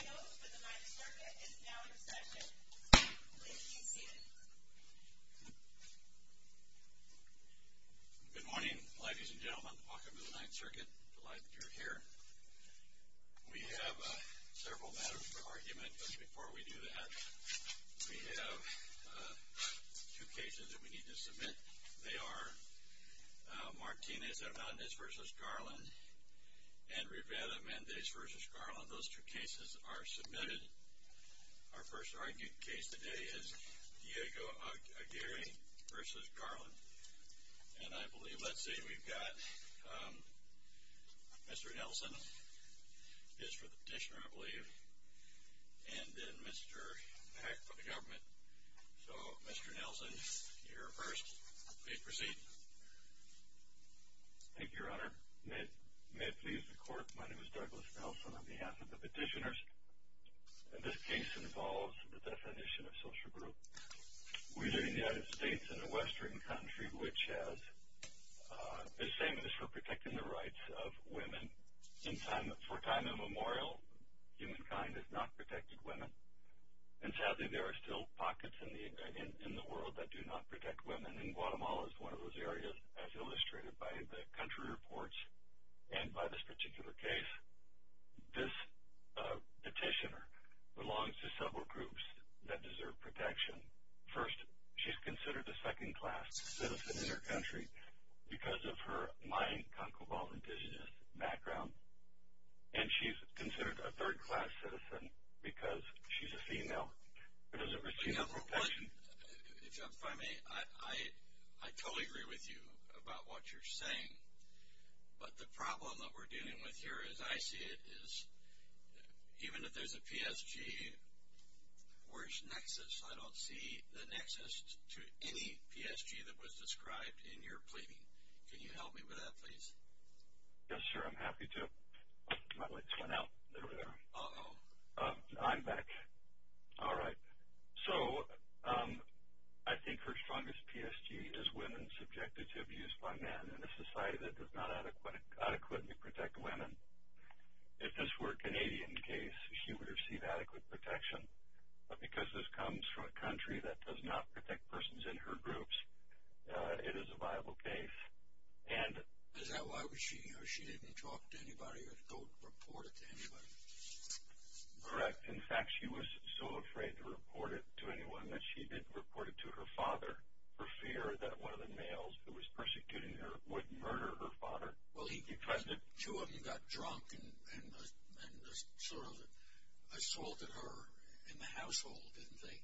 Good morning, ladies and gentlemen. Welcome to the Ninth Circuit. Delighted you're here. We have several matters for argument, but before we do that, we have two cases that we need to submit. They are Martinez-Hernandez v. Garland and Rivera-Mendez v. Garland. Those two cases are submitted. Our first argued case today is Diego-Aguirre v. Garland. And I believe, let's see, we've got Mr. Nelson is for the petitioner, I believe, and then Mr. Peck for the government. So Mr. Nelson, you're first. Please proceed. Thank you, Your Honor. May it please the Court, my name is Douglas Nelson on behalf of the petitioners. This case involves the definition of social group. We live in the United States in a western country which is famous for protecting the rights of women. For time immemorial, humankind has not protected women. And sadly, there are still pockets in the world that do not protect women. And Guatemala is one of those areas, as illustrated by the country reports, and by this particular case. This petitioner belongs to several groups that deserve protection. First, she's considered a second-class citizen in her country because of her Mayan, Cancobal, indigenous background. And she's considered a third-class citizen because she's a female. She doesn't receive the protection. Mr. Nelson, if I may, I totally agree with you about what you're saying. But the problem that we're dealing with here, as I see it, is even if there's a PSG, where's nexus? I don't see the nexus to any PSG that was described in your plea. Can you help me with that, please? Yes, sir, I'm happy to. My lights went out. There we are. Uh-oh. I'm back. All right. So I think her strongest PSG is women subjected to abuse by men in a society that does not adequately protect women. If this were a Canadian case, she would receive adequate protection. But because this comes from a country that does not protect persons in her groups, it is a viable case. Is that why she didn't talk to anybody or don't report it to anybody? Correct. In fact, she was so afraid to report it to anyone that she didn't report it to her father for fear that one of the males who was persecuting her would murder her father. Well, two of them got drunk and sort of assaulted her in the household, didn't they?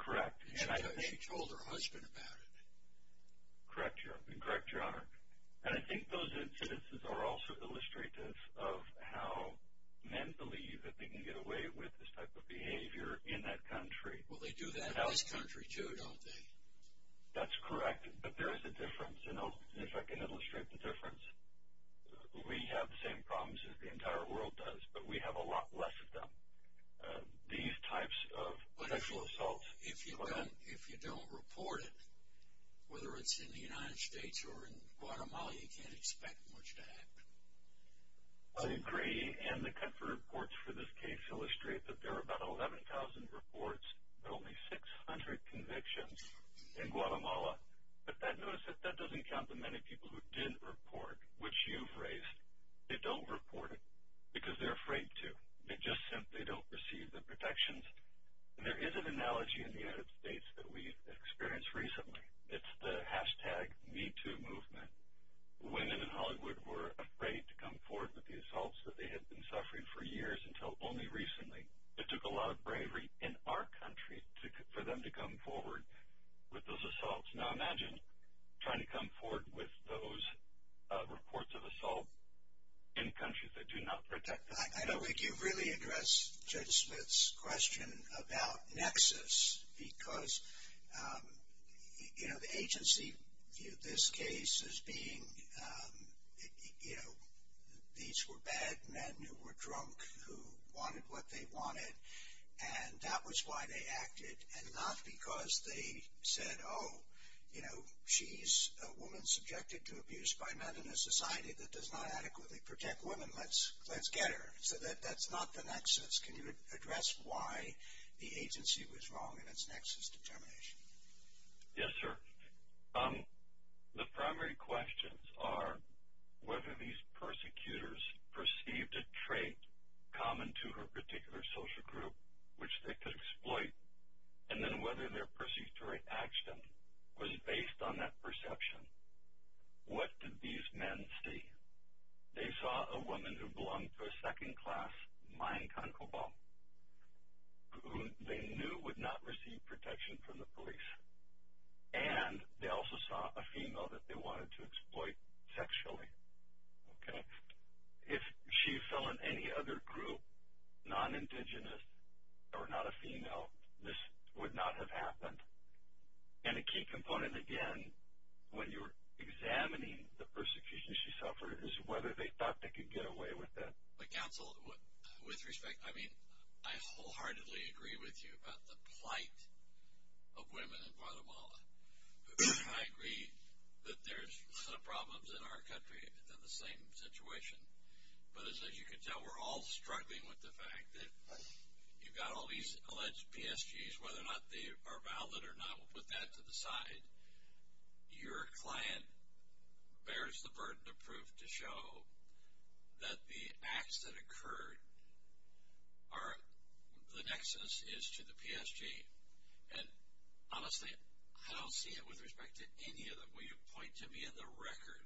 Correct. And she told her husband about it. Correct, Your Honor. And I think those instances are also illustrative of how men believe that they can get away with this type of behavior in that country. Well, they do that in this country, too, don't they? That's correct. But there is a difference. And if I can illustrate the difference, we have the same problems as the entire world does, but we have a lot less of them. These types of sexual assaults... If you don't report it, whether it's in the United States or in Guatemala, you can't expect much to happen. I agree. And the country reports for this case illustrate that there are about 11,000 reports, but only 600 convictions in Guatemala. But notice that doesn't count the many people who did report, which you've raised. They don't report it because they're afraid to. They just simply don't receive the protections. And there is an analogy in the United States that we've experienced recently. It's the hashtag MeToo movement. Women in Hollywood were afraid to come forward with the assaults that they had been suffering for years until only recently. It took a lot of bravery in our country for them to come forward with those assaults. Now imagine trying to come forward with those reports of assault in countries that do not protect them. I don't think you've really addressed Judge Smith's question about nexus because the agency viewed this case as being... These were bad men who were drunk who wanted what they wanted and that was why they acted and not because they said, oh, she's a woman subjected to so that's not the nexus. Can you address why the agency was wrong in its nexus determination? Yes, sir. The primary questions are whether these persecutors perceived a trait common to her particular social group, which they could exploit, and then whether their perceived reaction was based on that perception. What did these men see? They saw a woman who belonged to a second-class mine concobalt who they knew would not receive protection from the police and they also saw a female that they wanted to exploit sexually. If she fell in any other group, non-indigenous or not a female, this would not have happened. A key component again when you're examining the persecution she suffered is whether they thought they could get away with that. Counsel, with respect, I wholeheartedly agree with you about the plight of women in Guatemala. I agree that there's some problems in our country that are the same situation, but as you can tell, we're all struggling with the fact that you've got all these alleged PSGs, whether or not they are valid or not, we'll put that to the record, that the acts that occurred are, the nexus is to the PSG. And honestly, I don't see it with respect to any of them. Will you point to me in the record,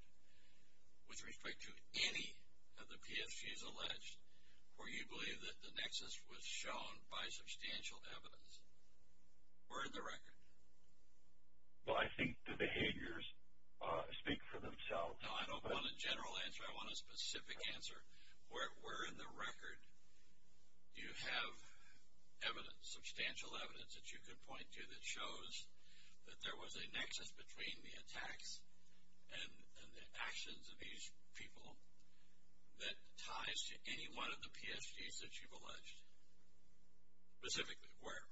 with respect to any of the PSGs alleged, where you believe that the nexus was shown by substantial evidence? Or in the record? Well, I think the behaviors speak for themselves. No, I don't want a general answer, I want a specific answer. Where in the record do you have evidence, substantial evidence that you could point to that shows that there was a nexus between the attacks and the actions of these people that ties to any one of the PSGs that you've alleged? Specifically, where?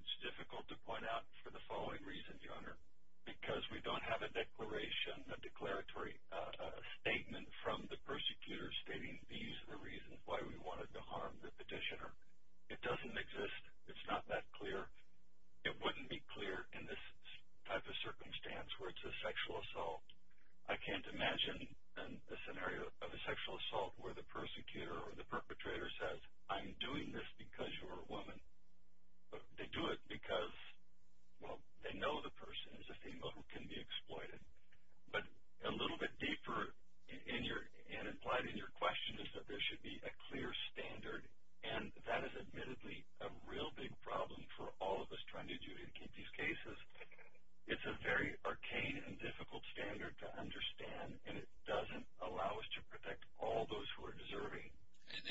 It's difficult to point out for the following reasons, Your Honor. Because we don't have a declaration, a declaratory statement from the persecutor stating these are the reasons why we wanted to harm the petitioner. It doesn't exist. It's not that clear. It wouldn't be clear in this type of circumstance where it's a sexual assault. I can't imagine a scenario of a sexual assault where the persecutor or the perpetrator says, I'm doing this because you're a woman. They do it because, well, they know the person is a female who can be exploited. But a little bit deeper and implied in your question is that there should be a clear standard, and that is admittedly a real big problem for all of us trying to adjudicate these cases. It's a very arcane and difficult standard to understand, and it doesn't allow us to protect all those who are deserving. And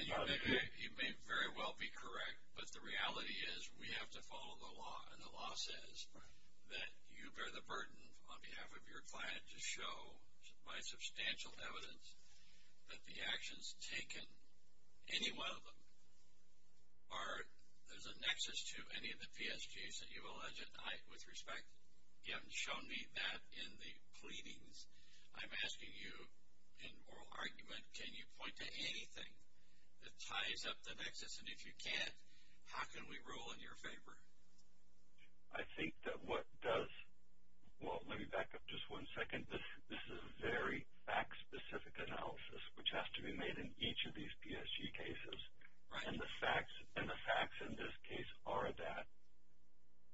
you may very well be correct, but the reality is we have to follow the law, and the law says that you bear the burden on behalf of your client to show by substantial evidence that the actions taken, any one of them, are, there's a nexus to any of the PSGs that you I'm asking you in moral argument, can you point to anything that ties up the nexus? And if you can't, how can we rule in your favor? I think that what does, well, let me back up just one second. This is a very fact-specific analysis which has to be made in each of these PSG cases. And the facts in this case are that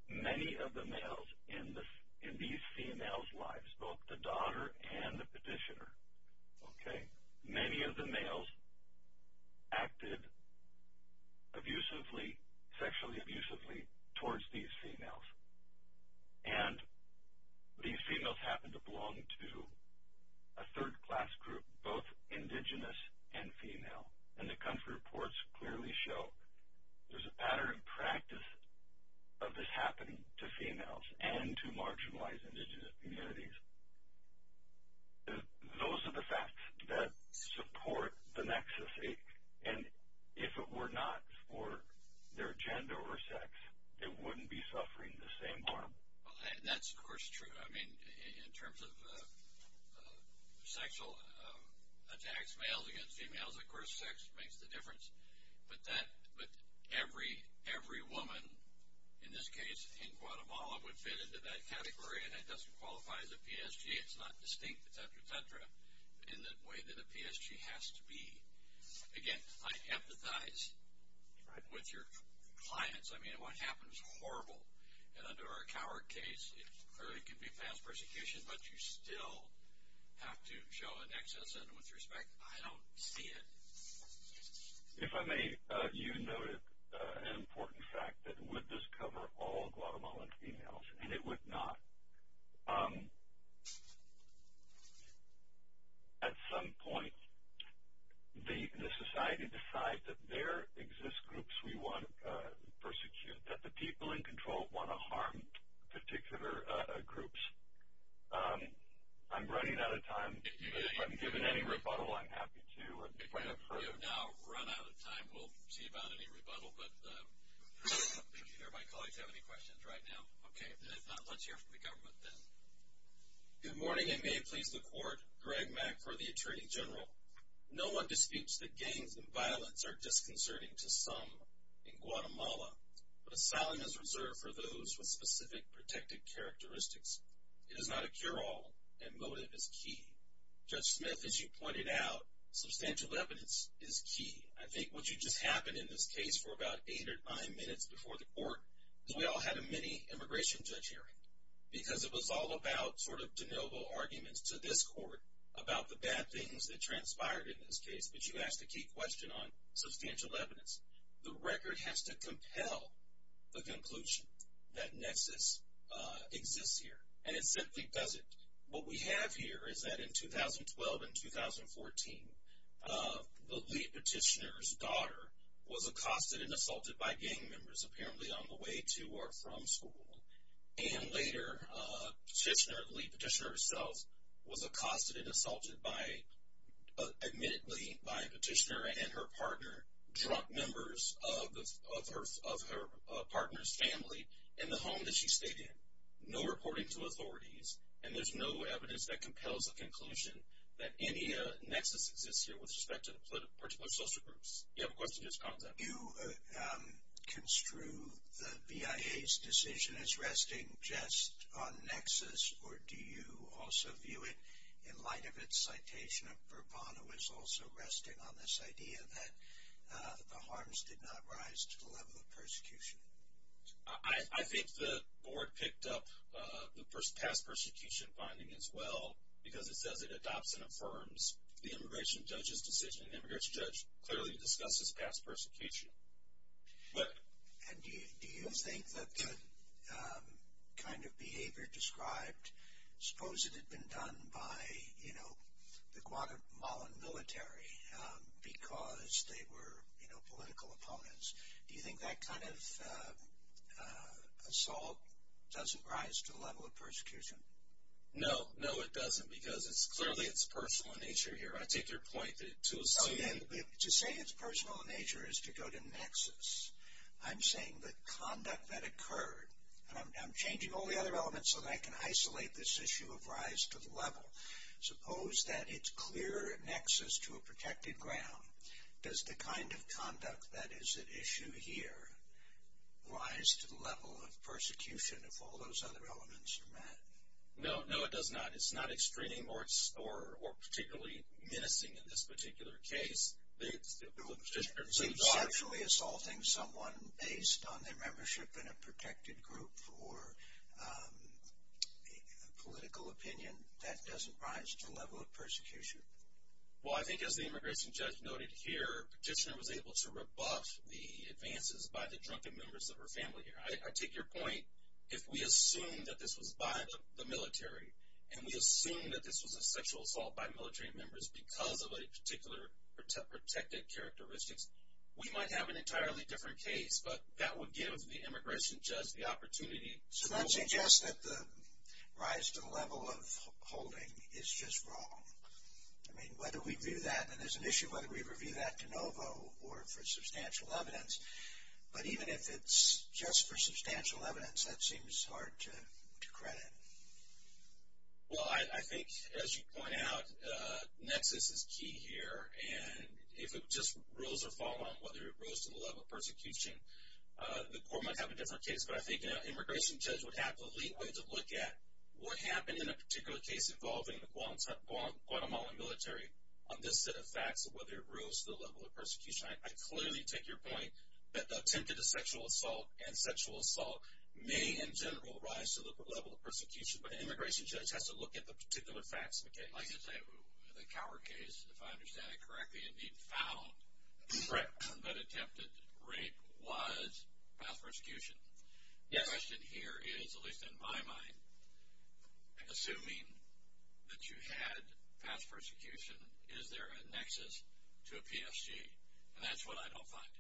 many of the males in these females' lives, both the daughter and the petitioner, okay, many of the males acted abusively, sexually abusively towards these females. And these females happened to belong to a third-class group, both indigenous and female. And the extent of this happening to females and to marginalized indigenous communities, those are the facts that support the nexus. And if it were not for their gender or sex, they wouldn't be suffering the same harm. That's, of course, true. I mean, in terms of sexual attacks, males against females, of course, sex makes the difference. But every woman, in this case, in Guatemala, would fit into that category, and it doesn't qualify as a PSG. It's not distinct, et cetera, et cetera, in the way that a PSG has to be. Again, I empathize with your clients. I mean, what happens is horrible. And under our coward case, it clearly can be fast persecution, but you still have to show a nexus. And with respect, I don't see it. If I may, you noted an important fact that would this cover all Guatemalan females, and it would not. At some point, the society decides that there exist groups we want to persecute, that the people in control want to harm particular groups. I'm running out of time, but if I'm given any rebuttal, I'm happy to. We have now run out of time. We'll see about any rebuttal, but I don't think either of my colleagues have any questions right now. Okay, if not, let's hear from the government then. Good morning, and may it please the Court. Greg Mack for the Attorney General. No one disputes that gangs and violence are disconcerting to some in Guatemala, but asylum is reserved for those with specific protected characteristics. It is not a cure-all, and that motive is key. Judge Smith, as you pointed out, substantial evidence is key. I think what just happened in this case for about eight or nine minutes before the Court, we all had a mini-immigration judge hearing, because it was all about sort of de novo arguments to this Court about the bad things that transpired in this case, but you asked a key question on substantial evidence. The record has to compel the conclusion that nexus exists here, and it simply doesn't. What we have here is that in 2012 and 2014, the lead petitioner's daughter was accosted and assaulted by gang members, apparently on the way to or from school. And later, the lead petitioner herself was accosted and assaulted by, admittedly, by a petitioner and her partner, drunk members of her partner's family in the home that she stayed in. No reporting to authorities, and there's no evidence that compels the conclusion that any nexus exists here with respect to particular social groups. You have a question, Judge Compton? Do you construe the BIA's decision as resting just on nexus, or do you also view it in light of its citation of Burbano as also resting on this idea that the harms did not rise to the level of persecution? I think the board picked up the past persecution finding as well, because it says it adopts and affirms the immigration judge's decision, and the immigration judge clearly discusses past persecution. And do you think that the kind of behavior described, suppose it had been done by, you assault, doesn't rise to the level of persecution? No, no it doesn't, because it's clearly its personal nature here. I take your point that to assume... To say it's personal nature is to go to nexus. I'm saying the conduct that occurred, and I'm changing all the other elements so that I can isolate this issue of rise to the level. Suppose that it's clear nexus to a protected ground. Does the kind of conduct that is at issue here rise to the level of persecution if all those other elements are met? No, no it does not. It's not extreme or particularly menacing in this particular case. So you're sexually assaulting someone based on their membership in a protected group or political opinion, that doesn't rise to the level of persecution? Well I think as the immigration judge noted here, petitioner was able to rebuff the advances by the drunken members of her family. I take your point, if we assume that this was by the military, and we assume that this was a sexual assault by military members because of a particular protected characteristics, we might have an entirely different case. But that would give the immigration judge the opportunity... So that suggests that the rise to the level of holding is just wrong. I mean, whether we view that, and there's an issue whether we review that de novo or for substantial evidence, but even if it's just for substantial evidence, that seems hard to credit. Well I think, as you point out, nexus is key here, and if it just rose or fell on whether it rose to the level of persecution, the court might have a different case. But I think the immigration judge would have the leeway to look at what happened in a particular case involving the Guatemalan military on this set of facts, whether it rose to the level of persecution. I clearly take your point that the attempted sexual assault and sexual assault may in general rise to the level of persecution, but the immigration judge has to look at the particular facts of the case. I should say, the Cower case, if I understand it correctly, indeed found that attempted rape was past persecution. The question here is, at least in my mind, assuming that you had past persecution, is there a nexus to a PSG? And that's what I don't find.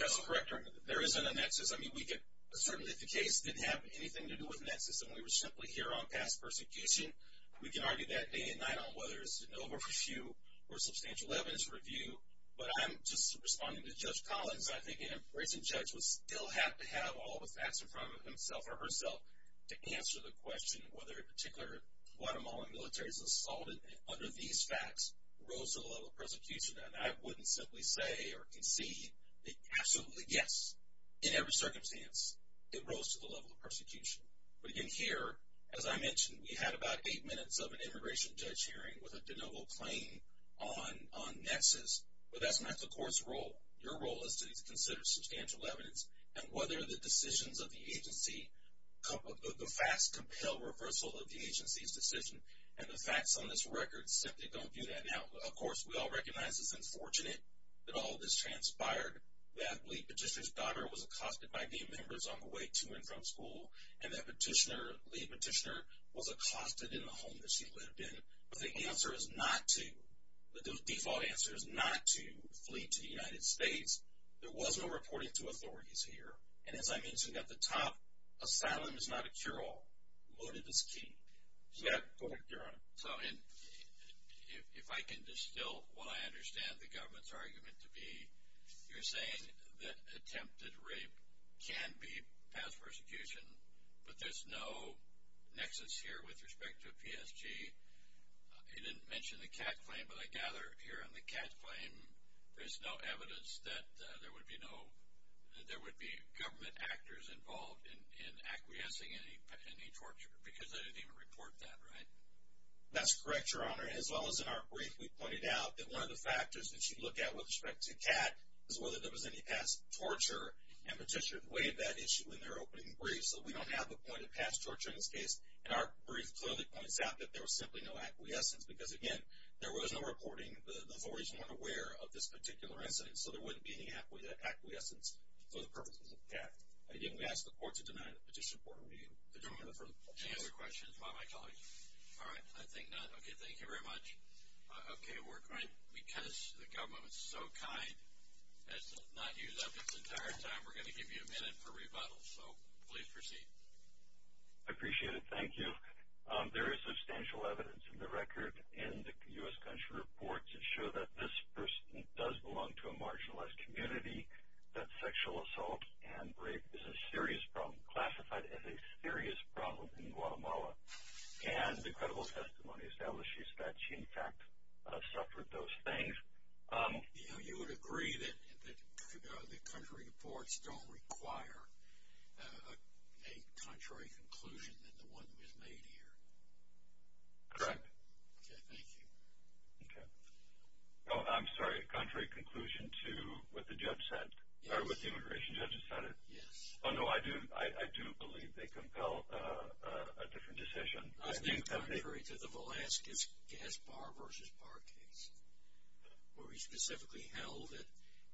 That's correct, there isn't a nexus. I mean, certainly if the case didn't have anything to do with nexus and we were simply here on past persecution, we can argue that day and night on whether it's de novo or for substantial evidence review, but I'm just responding to the fact that I think an immigration judge would still have to have all the facts in front of himself or herself to answer the question of whether a particular Guatemalan military's assault under these facts rose to the level of persecution. And I wouldn't simply say or concede that absolutely yes, in every circumstance, it rose to the level of persecution. But again, here, as I mentioned, we had about eight minutes of an immigration judge hearing with a de novo claim on nexus, but that's not the court's role. Your role is to consider substantial evidence, and whether the decisions of the agency, the facts compel reversal of the agency's decision, and the facts on this record simply don't do that. Now, of course, we all recognize it's unfortunate that all this transpired, that the lead petitioner's daughter was accosted by gay members on the way to and from school, and that petitioner, the lead petitioner, was accosted in the home that she lived in. But the answer is not to, the default answer is not to flee to the United States. There was no reporting to authorities here. And as I mentioned at the top, asylum is not a cure-all. Motive is key. Go ahead, Your Honor. So if I can distill what I understand the government's argument to be, you're saying that attempted rape can be passed persecution, but there's no nexus here with respect to I didn't mention the Catt claim, but I gather here on the Catt claim there's no evidence that there would be no, that there would be government actors involved in acquiescing in any torture, because they didn't even report that, right? That's correct, Your Honor. As well as in our brief, we pointed out that one of the factors that you look at with respect to Catt is whether there was any past torture, and petitioners weighed that issue in their opening brief. So we don't have a point of past torture in this case, and our brief clearly points out that there was simply no acquiescence, because, again, there was no reporting. The authorities weren't aware of this particular incident, so there wouldn't be any acquiescence for the purposes of Catt. I didn't ask the court to deny the petition. Any other questions by my colleagues? All right, I think not. Okay, thank you very much. Okay, we're going to, because the government was so kind as to not use up its entire time, we're going to give you a minute for rebuttal, so please proceed. I appreciate it. Thank you. There is substantial evidence in the record in the U.S. country reports that show that this person does belong to a marginalized community, that sexual assault and rape is a serious problem, classified as a serious problem in Guatemala, and the credible testimony establishes that she, in fact, suffered those things. You would agree that the country reports don't require a contrary conclusion than the one that was made here? Correct. Okay, thank you. Okay. Oh, I'm sorry, a contrary conclusion to what the judge said, or what the immigration judge decided? Yes. Oh, no, I do believe they compel a different decision. I think contrary to the Velazquez gas bar versus bar case, where we specifically held that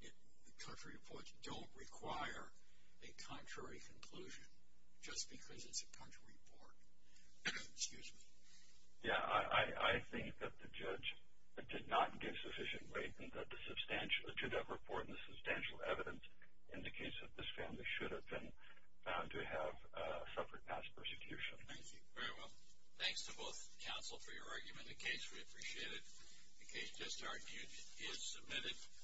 the country reports don't require a contrary conclusion, just because it's a country report. Excuse me. Yeah, I think that the judge did not give sufficient weight to that report, and the substantial evidence indicates that this family should have been found to have suffered mass persecution. Thank you. Very well. Thanks to both counsel for your argument. The case, we appreciate it. The case is submitted.